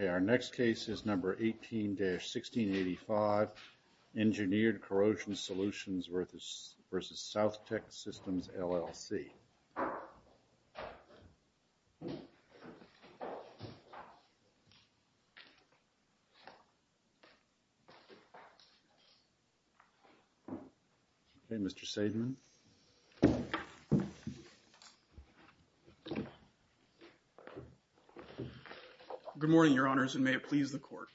Okay, our next case is number 18-1685, Engineered Corrosion Solutions v. South-Tek Systems, LLC. Okay, Mr. Seidman. Good morning, Your Honors, and may it please the Court.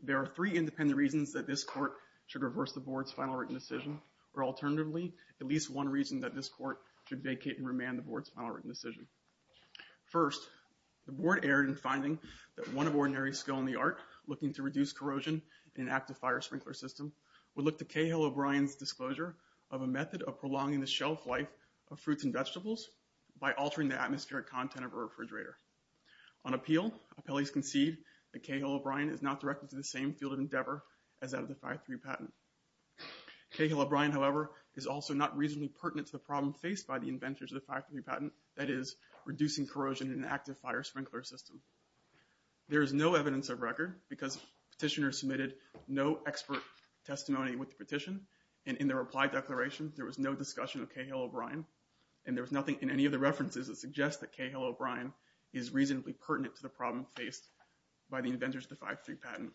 There are three independent reasons that this Court should reverse the Board's final written decision, or alternatively, at least one reason that this Court should vacate and remand the Board's final written decision. First, the Board erred in finding that one of ordinary skill in the art looking to reduce corrosion in an active fire sprinkler system would look to Cahill-O'Brien's disclosure of a method of prolonging the shelf life of fruits and vegetables by altering the atmospheric content of a refrigerator. On appeal, appellees concede that Cahill-O'Brien is not directed to the same field of endeavor as that of the 5-3 patent. Cahill-O'Brien, however, is also not reasonably pertinent to the problem faced by the inventors of the 5-3 patent, that is, reducing corrosion in an active fire sprinkler system. There is no evidence of record because petitioners submitted no expert testimony with the petition, and in their reply declaration, there was no discussion of Cahill-O'Brien, and there was nothing in any of the references that suggest that Cahill-O'Brien is reasonably pertinent to the problem faced by the inventors of the 5-3 patent.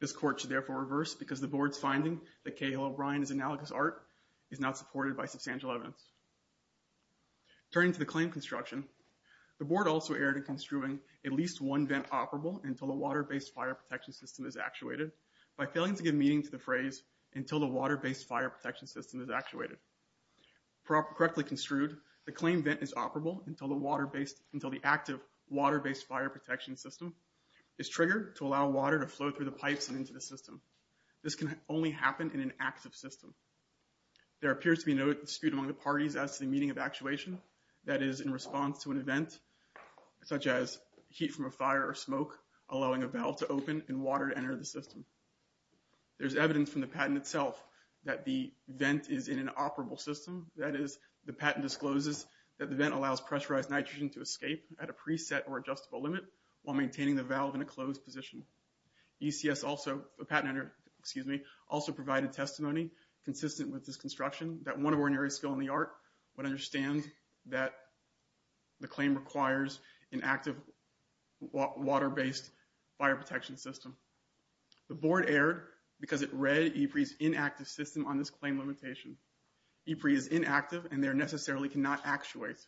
This court should therefore reverse because the board's finding that Cahill-O'Brien is analogous art is not supported by substantial evidence. Turning to the claim construction, the board also erred in construing at least one vent operable until the water-based fire protection system is actuated by failing to give meaning to the phrase, until the water-based fire protection system is actuated. Correctly construed, the claim vent is operable until the active water-based fire protection system is triggered to allow water to flow through the pipes and into the system. This can only happen in an active system. There appears to be no dispute among the parties as to the meaning of actuation, that is, in response to an event, such as heat from a fire or smoke allowing a valve to open and water to enter the system. There's evidence from the patent itself that the vent is in an operable system, that is, the patent discloses that the vent allows pressurized nitrogen to escape at a preset or adjustable limit while maintaining the valve in a closed position. ECS also, the patent, excuse me, also provided testimony consistent with this construction that one ordinary skill in the art would understand that the claim requires an active water-based fire protection system. The board erred because it read EPRI's inactive system on this claim limitation. EPRI is inactive and there necessarily cannot actuate.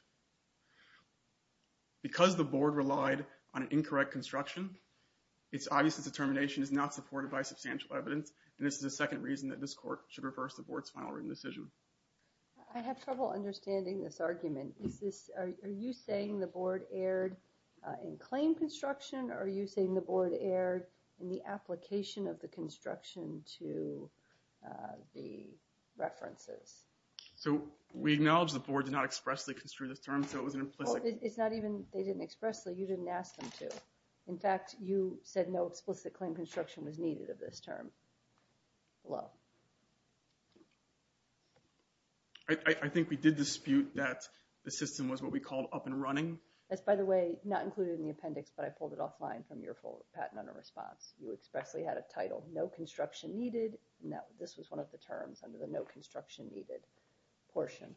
Because the board relied on an incorrect construction, it's obvious that the termination is not supported by substantial evidence and this is the second reason that this court should reverse the board's final written decision. I have trouble understanding this argument. Is this, are you saying the board erred in claim construction or are you saying the board erred in the application of the construction to the references? So, we acknowledge the board did not expressly construe this term, so it was an implicit... Well, it's not even, they didn't expressly, you didn't ask them to. In fact, you said no explicit claim construction was needed of this term. Hello? I think we did dispute that the system was what we called up and running. That's, by the way, not included in the appendix, but I pulled it offline from your full patent under response. You expressly had a title, no construction needed, and that this was one of the terms under the no construction needed portion.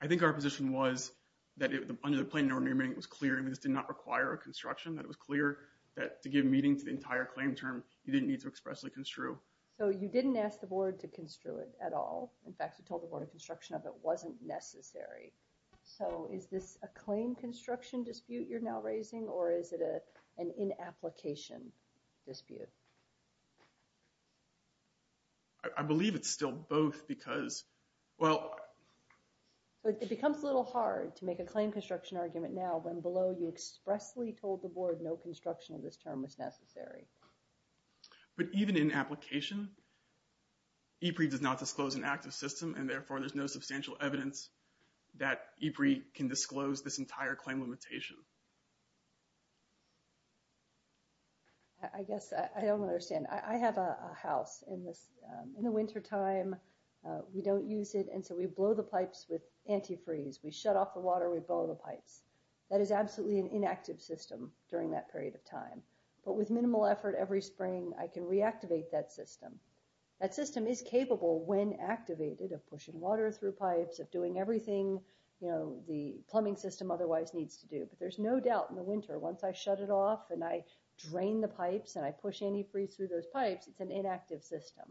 I think our position was that under the plain and ordinary meaning it was clear that this did not require a construction, that it was clear that to give meaning to the entire claim term, you didn't need to expressly construe. So you didn't ask the board to construe it at all. In fact, you told the board a construction of it wasn't necessary. So is this a claim construction dispute you're now raising or is it an in-application dispute? I believe it's still both because, well... It becomes a little hard to make a claim construction argument now when below you expressly told the board no construction of this term was necessary. But even in application, EPRI does not disclose an active system and therefore there's no substantial evidence that EPRI can disclose this entire claim limitation. I guess I don't understand. I have a house in the wintertime, we don't use it, and so we blow the pipes with antifreeze. We shut off the water, we blow the pipes. That is absolutely an inactive system during that period of time. But with minimal effort every spring, I can reactivate that system. That system is capable when activated of pushing water through pipes, of doing everything the winter. There's no doubt in the winter, once I shut it off and I drain the pipes and I push antifreeze through those pipes, it's an inactive system.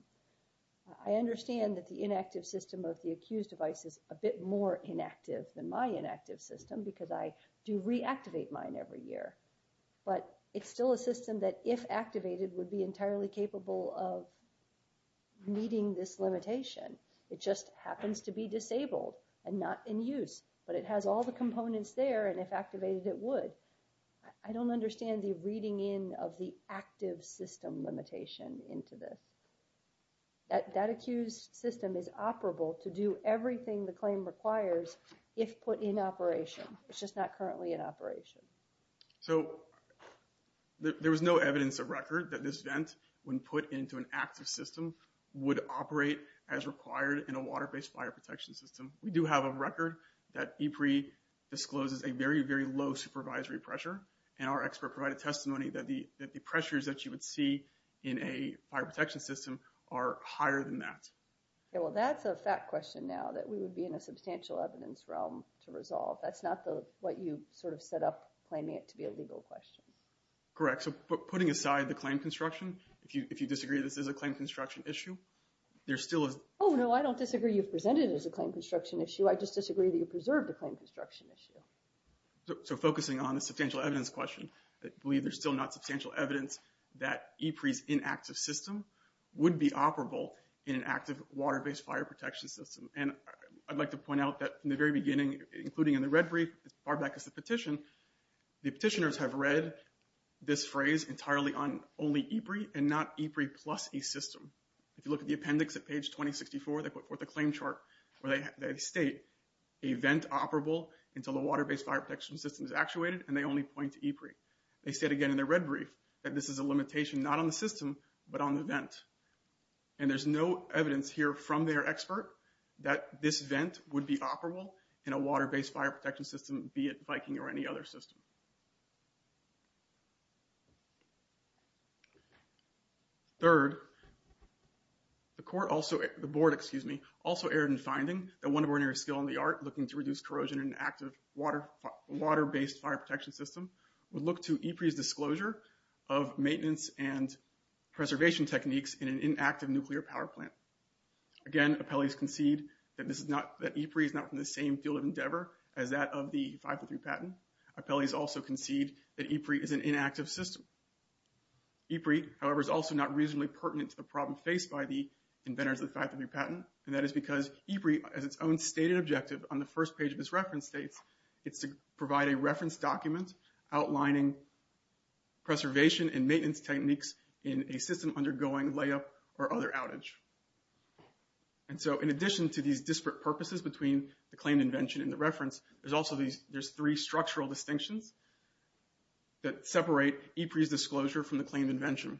I understand that the inactive system of the accused device is a bit more inactive than my inactive system because I do reactivate mine every year. But it's still a system that if activated would be entirely capable of meeting this limitation. It just happens to be disabled and not in use. But it has all the components there and if activated it would. I don't understand the reading in of the active system limitation into this. That accused system is operable to do everything the claim requires if put in operation. It's just not currently in operation. So there was no evidence of record that this vent, when put into an active system, would operate as required in a water-based fire protection system. We do have a record that EPRI discloses a very, very low supervisory pressure. And our expert provided testimony that the pressures that you would see in a fire protection system are higher than that. Yeah, well that's a fact question now that we would be in a substantial evidence realm to resolve. That's not what you sort of set up claiming it to be a legal question. Correct. So putting aside the claim construction, if you disagree this is a claim construction issue, there still is... Oh no, I don't disagree you've presented it as a claim construction issue. I just disagree that you preserved the claim construction issue. So focusing on the substantial evidence question, I believe there's still not substantial evidence that EPRI's inactive system would be operable in an active water-based fire protection system. And I'd like to point out that in the very beginning, including in the red brief, as far back as the petition, the petitioners have read this phrase entirely on only EPRI and not EPRI plus a system. If you look at the appendix at page 2064, they put forth a claim chart where they state a vent operable until the water-based fire protection system is actuated and they only point to EPRI. They said again in their red brief that this is a limitation not on the system, but on the vent. And there's no evidence here from their expert that this vent would be operable in a water-based fire protection system, be it Viking or any other system. Third, the board also erred in finding that one ordinary skill in the art looking to reduce corrosion in an active water-based fire protection system would look to EPRI's disclosure of maintenance and preservation techniques in an inactive nuclear power plant. Again appellees concede that EPRI is not from the same field of endeavor as that of the 503 patent. Appellees also concede that EPRI is an inactive system. EPRI, however, is also not reasonably pertinent to the problem faced by the inventors of the 503 patent. And that is because EPRI has its own stated objective on the first page of its reference states. It's to provide a reference document outlining preservation and maintenance techniques in a system undergoing layup or other outage. And so in addition to these disparate purposes between the claim invention and the reference, there's also these, there's three structural distinctions that separate EPRI's disclosure from the claim invention.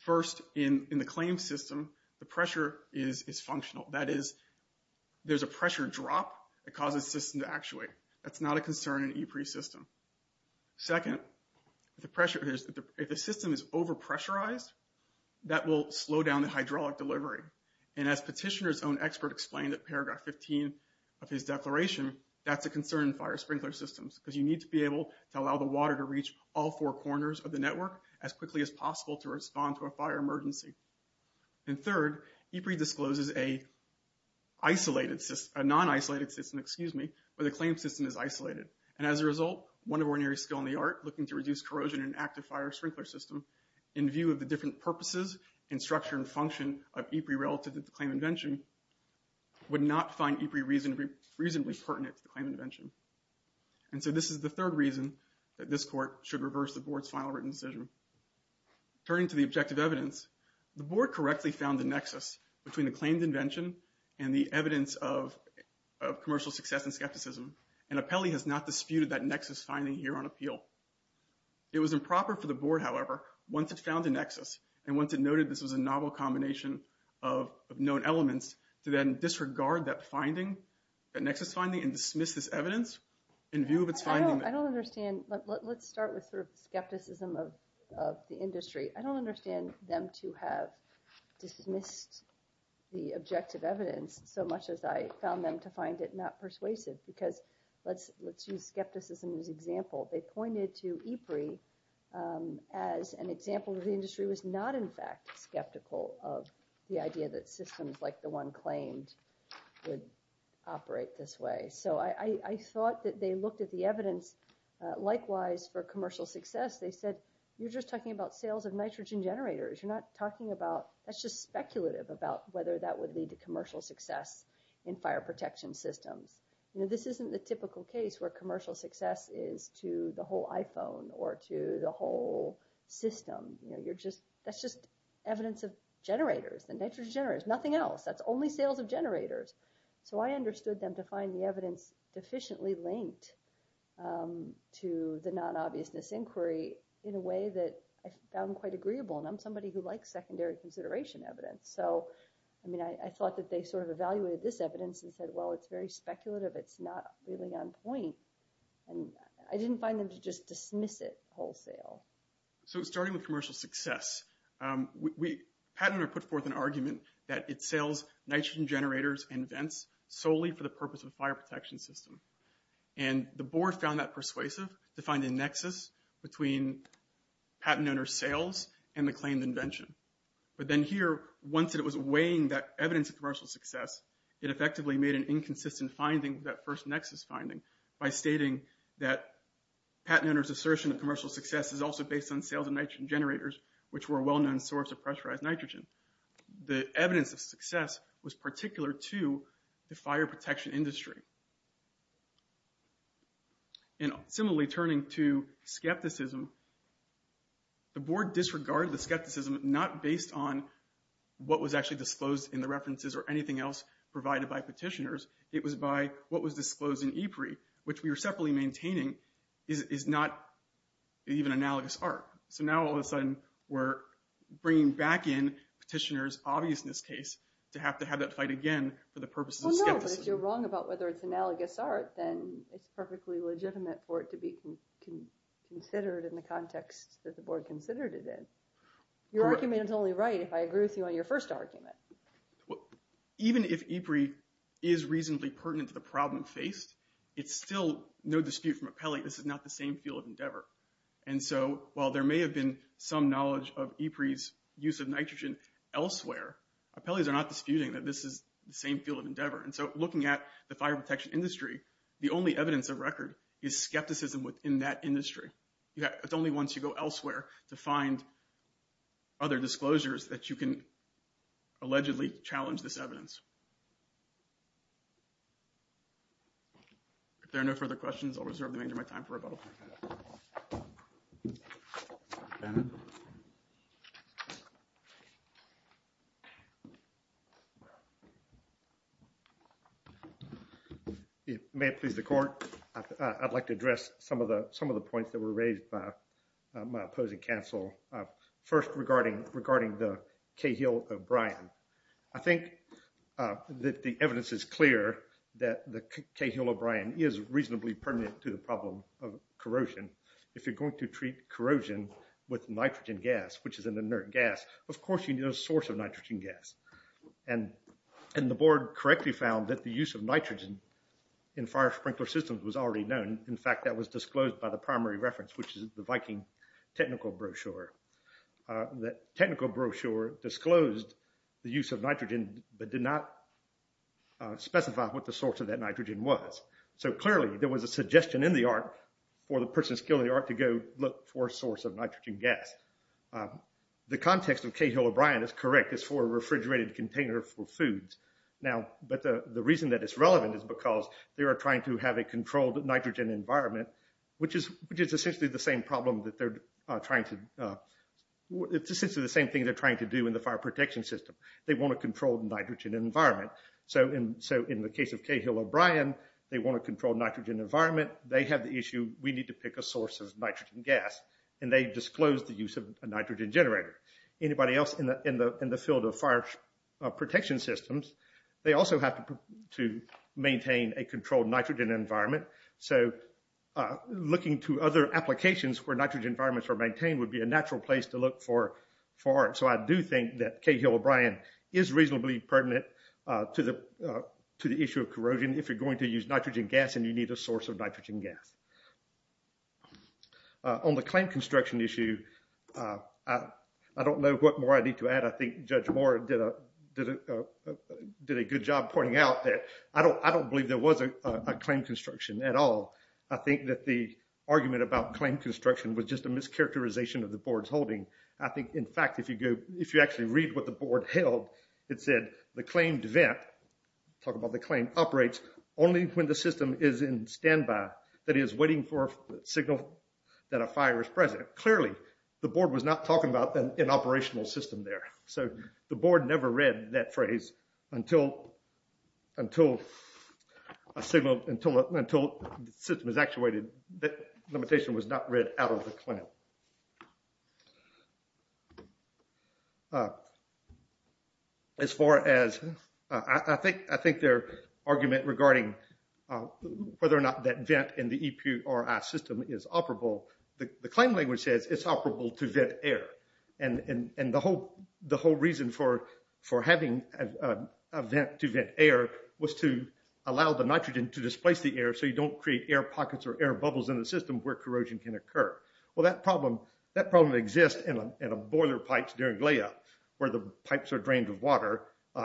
First in the claim system, the pressure is functional. That is, there's a pressure drop that causes the system to actuate. That's not a concern in EPRI's system. Second, if the system is over pressurized, that will slow down the hydraulic delivery. And as Petitioner's own expert explained at paragraph 15 of his declaration, that's a concern in fire sprinkler systems because you need to be able to allow the water to reach all four corners of the network as quickly as possible to respond to a fire emergency. And third, EPRI discloses a non-isolated system where the claim system is isolated. And as a result, one ordinary skill in the art, looking to reduce corrosion in an active fire sprinkler system, in view of the different purposes and structure and function of EPRI relative to the claim invention, would not find EPRI reasonably pertinent to the claim invention. And so this is the third reason that this Court should reverse the Board's final written decision. Turning to the objective evidence, the Board correctly found the nexus between the claimed invention and the evidence of commercial success and skepticism, and Apelli has not disputed that nexus finding here on appeal. It was improper for the Board, however, once it found a nexus, and once it noted this was a novel combination of known elements, to then disregard that finding, that nexus finding, and dismiss this evidence in view of its finding. I don't understand. Let's start with sort of skepticism of the industry. I don't understand them to have dismissed the objective evidence so much as I found them to find it not persuasive because, let's use skepticism as an example, they pointed to EPRI as an example where the industry was not, in fact, skeptical of the idea that systems like the one claimed would operate this way. So I thought that they looked at the evidence. Likewise, for commercial success, they said, you're just talking about sales of nitrogen generators. You're not talking about, that's just speculative about whether that would lead to commercial success in fire protection systems. This isn't the typical case where commercial success is to the whole iPhone or to the whole system. That's just evidence of generators, the nitrogen generators, nothing else. That's only sales of generators. So I understood them to find the evidence deficiently linked to the non-obviousness inquiry in a way that I found quite agreeable, and I'm somebody who likes secondary consideration evidence. So I thought that they sort of evaluated this evidence and said, well, it's very speculative. It's not really on point, and I didn't find them to just dismiss it wholesale. So starting with commercial success, PatentOwner put forth an argument that it sells nitrogen generators and vents solely for the purpose of the fire protection system, and the board found that persuasive to find a nexus between PatentOwner's sales and the claimed invention. But then here, once it was weighing that evidence of commercial success, it effectively made an inconsistent finding, that first nexus finding, by stating that PatentOwner's assertion of commercial success is also based on sales of nitrogen generators, which were a well-known source of pressurized nitrogen. The evidence of success was particular to the fire protection industry. And similarly, turning to skepticism, the board disregarded the skepticism not based on what was actually disclosed in the references or anything else provided by petitioners. It was by what was disclosed in EPRI, which we were separately maintaining, is not even analogous art. So now all of a sudden, we're bringing back in petitioners' obviousness case to have to have that fight again for the purposes of skepticism. If you're wrong about whether it's analogous art, then it's perfectly legitimate for it to be considered in the context that the board considered it in. Your argument is only right if I agree with you on your first argument. Even if EPRI is reasonably pertinent to the problem faced, it's still no dispute from appellee, this is not the same field of endeavor. And so while there may have been some knowledge of EPRI's use of nitrogen elsewhere, appellees are not disputing that this is the same field of endeavor. And so looking at the fire industry, the only evidence of record is skepticism within that industry. It's only once you go elsewhere to find other disclosures that you can allegedly challenge this evidence. If there are no further questions, I'll reserve the remainder of my time for rebuttal. May it please the court, I'd like to address some of the some of the points that were raised by my opposing counsel. First, regarding the Cahill-O'Brien. I think that the evidence is clear that the Cahill-O'Brien is reasonably pertinent to the problem of corrosion. If you're going to treat corrosion with nitrogen gas, which is an inert gas, of course you need a source of nitrogen gas. And the board correctly found that the use of nitrogen in fire sprinkler systems was already known. In fact, that was disclosed by the primary reference, which is the Viking technical brochure. The technical brochure disclosed the use of nitrogen, but did not specify what the source of that nitrogen was. So clearly there was a suggestion in the art for the person skilled in the art to go look for a source of nitrogen gas. The context of Cahill-O'Brien is correct. It's for a refrigerated container for foods. Now, but the the reason that it's relevant is because they are trying to have a controlled nitrogen environment, which is essentially the same problem that they're trying to, it's essentially the same thing they're trying to do in the fire protection system. They want to control the nitrogen environment. So in the case of Cahill-O'Brien, they want to control nitrogen environment. They have the issue, we need to pick a source of nitrogen gas. And they disclosed the use of a nitrogen generator. Anybody else in the field of fire protection systems, they also have to maintain a controlled nitrogen environment. So looking to other applications where nitrogen environments are maintained would be a natural place to look for for art. So I do think that Cahill-O'Brien is reasonably pertinent to the issue of corrosion if you're going to use nitrogen gas and you need a source of nitrogen gas. On the claim construction issue, I don't know what more I need to add. I think Judge Moore did a did a good job pointing out that I don't, I don't believe there was a claim construction at all. I think that the argument about claim construction was just a mischaracterization of the board's holding. I think, in fact, if you go, if you actually read what the board held, it said the claimed vent, talk about the claim, operates only when the system is in standby. That is, waiting for a signal that a fire is present. Clearly the board was not talking about an operational system there. So the board never read that phrase until, until a signal, until, until the system is actuated. That limitation was not read out of the claim. As far as, I think, I think their argument regarding whether or not that vent in the EPRI system is operable, the claim language says it's operable to vent air. And the whole, the whole reason for, for having a vent to vent air was to allow the nitrogen to displace the air so you don't create air pockets or air bubbles in the system where corrosion can occur. Well, that problem, that problem exists in a boiler pipes during layup where the pipes are drained with water.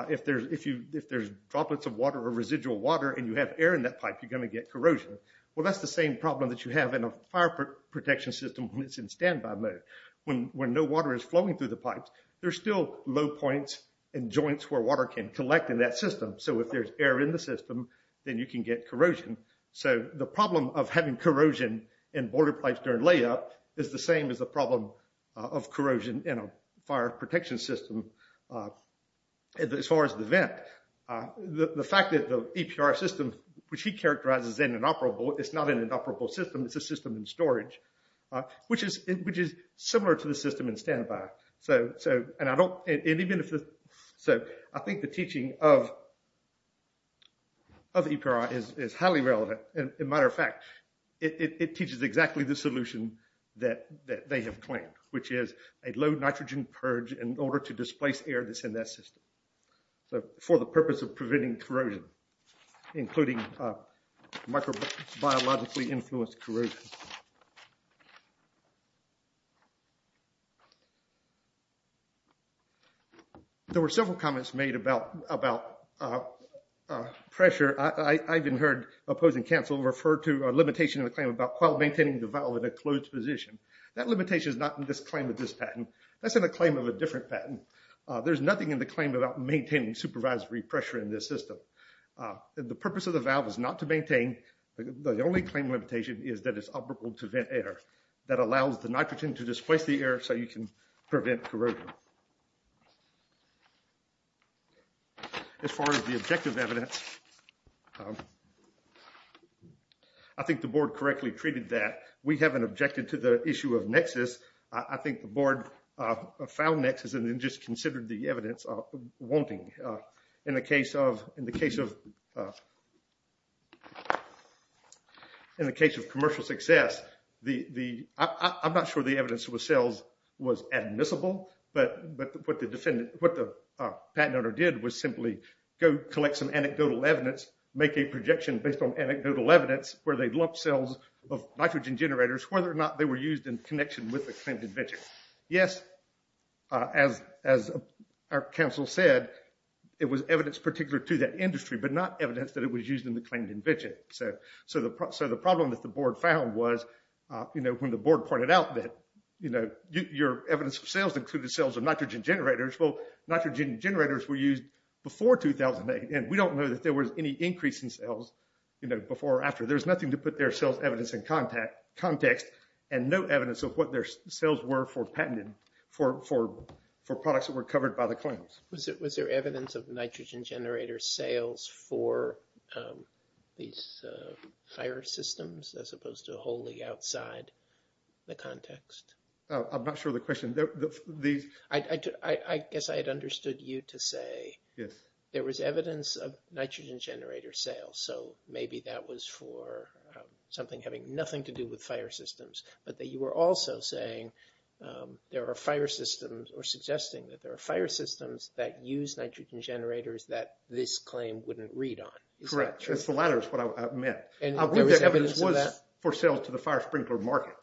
If there's, if you, if there's droplets of water or residual water and you have air in that pipe, you're going to get corrosion. Well, that's the same problem that you have in a fire protection system when it's in standby mode. When no water is flowing through the pipes, there's still low points and joints where water can collect in that system. So if there's air in the system, then you can get corrosion. So the problem of having corrosion in boiler pipes during layup is the same as the problem of corrosion in a fire protection system as far as the vent. The fact that the EPRI system, which he characterizes in an operable, it's not in an operable system, it's a system in storage, which is, which is similar to the system in standby. So, so, and I don't, and even if, so I think the teaching of, of EPRI is highly relevant. In matter of fact, it teaches exactly the solution that, that they have claimed, which is a low nitrogen purge in order to displace air that's in that system. So for the purpose of preventing corrosion, including microbiologically influenced corrosion. There were several comments made about, about pressure. I, I've even heard opposing counsel refer to a limitation of the claim about while maintaining the valve in a closed position. That limitation is not in this claim of this patent. That's in a claim of a different patent. There's nothing in the claim about maintaining supervisory pressure in this system. The purpose of the valve is not to maintain, the only claim limitation is that it's up to to vent air. That allows the nitrogen to displace the air so you can prevent corrosion. As far as the objective evidence, I think the board correctly treated that. We haven't objected to the issue of nexus. I think the board found nexus and then just considered the evidence of wanting. In the case of, in the case of, in the case of commercial success, the, the, I'm not sure the evidence with cells was admissible, but, but what the defendant, what the patent owner did was simply go collect some anecdotal evidence, make a projection based on anecdotal evidence where they'd lumped cells of nitrogen generators, whether or not they were used in connection with the claimed invention. Yes, as, as our counsel said, it was evidence particular to that industry, but not evidence that it was used in the claimed invention. So, so the, so the problem that the board found was, you know, when the board pointed out that, you know, your evidence of sales included cells of nitrogen generators, well, nitrogen generators were used before 2008. And we don't know that there was any increase in cells, you know, before or after. There's nothing to put their cells evidence in contact, context, and no evidence of what their cells were for patented, for, for, for products that were covered by the claims. Was it, was there evidence of nitrogen generator sales for these fire systems as opposed to wholly outside the context? I'm not sure the question, these. I, I, I guess I had understood you to say. Yes. There was evidence of nitrogen generator sales. So maybe that was for something having nothing to do with fire systems, but that you were also saying there are fire systems or suggesting that there are fire systems that use nitrogen generators that this claim wouldn't read on. Is that true? Correct. It's the latter is what I meant. And there was evidence of that? I believe the evidence was for sales to the fire sprinkler market.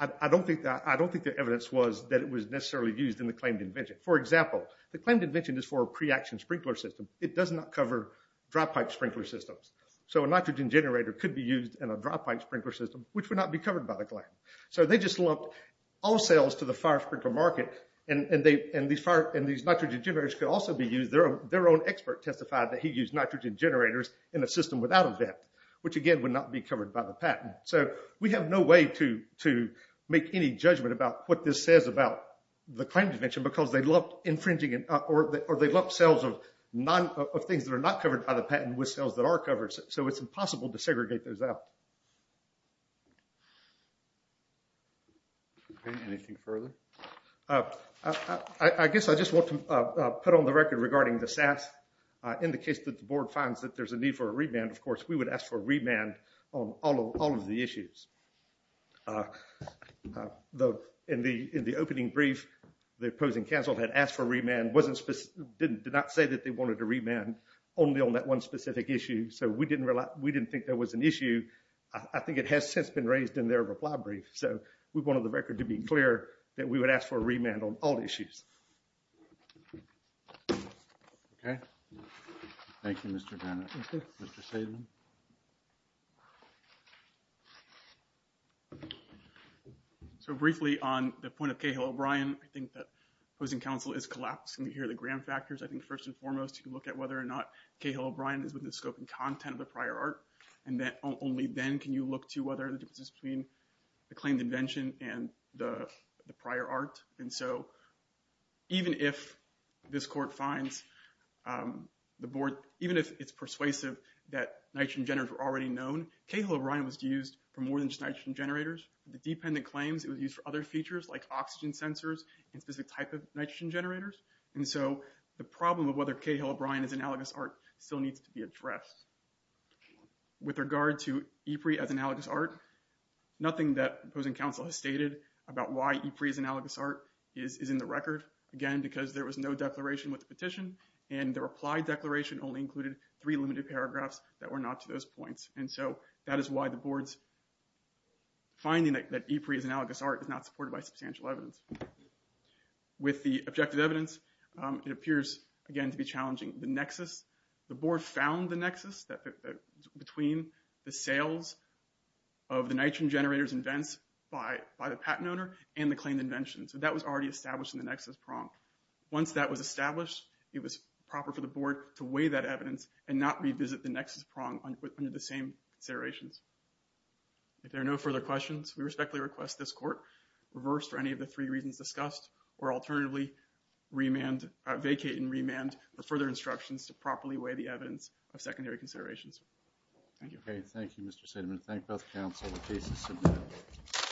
I don't think that, I don't think the evidence was that it was necessarily used in the claimed invention. For example, the claimed invention is for a pre-action sprinkler system. It does not cover dry pipe sprinkler systems. So a nitrogen generator could be used in a dry pipe sprinkler system, which would not be covered by the claim. So they just lumped all sales to the fire sprinkler market, and, and they, and these fire, and these nitrogen generators could also be used. Their, their own expert testified that he used nitrogen generators in a system without a vent, which again would not be covered by the patent. So we have no way to, to make any judgment about what this says about the claimed invention, because they lumped or they lumped sales of non, of things that are not covered by the patent with sales that are covered. So it's impossible to segregate those out. Okay, anything further? I, I guess I just want to put on the record regarding the SAS. In the case that the board finds that there's a need for a remand, of course we would ask for a remand on all of, all of the issues. Though in the, in the opening brief, the opposing counsel had asked for a remand, wasn't specific, didn't, did not say that they wanted a remand only on that one specific issue. So we didn't rely, we didn't think there was an issue. I think it has since been raised in their reply brief. So we wanted the record to be clear that we would ask for a remand on all issues. Okay. Thank you, Mr. Bennett. Mr. Saban. So briefly on the point of Cahill-O'Brien, I think that opposing counsel is collapsing here, the gram factors. I think first and foremost, you can look at whether or not Cahill-O'Brien is within the scope and content of the prior art. And that only then can you look to whether the differences between the claimed invention and the prior art. And so even if this court finds the board, even if it's persuasive that nitrogen generators were already known, Cahill-O'Brien was used for more than just nitrogen generators. The dependent claims, it was used for other features like oxygen sensors and specific type of nitrogen generators. And so the problem of whether Cahill-O'Brien is analogous art still needs to be addressed. With regard to Ypres as analogous art, nothing that opposing counsel has stated about why Ypres as analogous art is in the record. Again, because there was no declaration with the petition, and the reply declaration only included three limited paragraphs that were not to those points. And so that is why the board's finding that Ypres as analogous art is not supported by substantial evidence. With the objective evidence, it appears again to be challenging. The nexus, the board found the nexus between the sales of the nitrogen generators and vents by the patent owner and the claimed invention. So that was already established in the nexus prong. Once that was established, it was proper for the board to weigh that evidence and not revisit the nexus prong under the same considerations. If there are no further questions, we respectfully request this court reverse for any of the three reasons discussed, or alternatively vacate and remand the further instructions to properly weigh the evidence of secondary considerations. Thank you. Okay, thank you Mr. Sedeman. Thank both counsel. The case is submitted.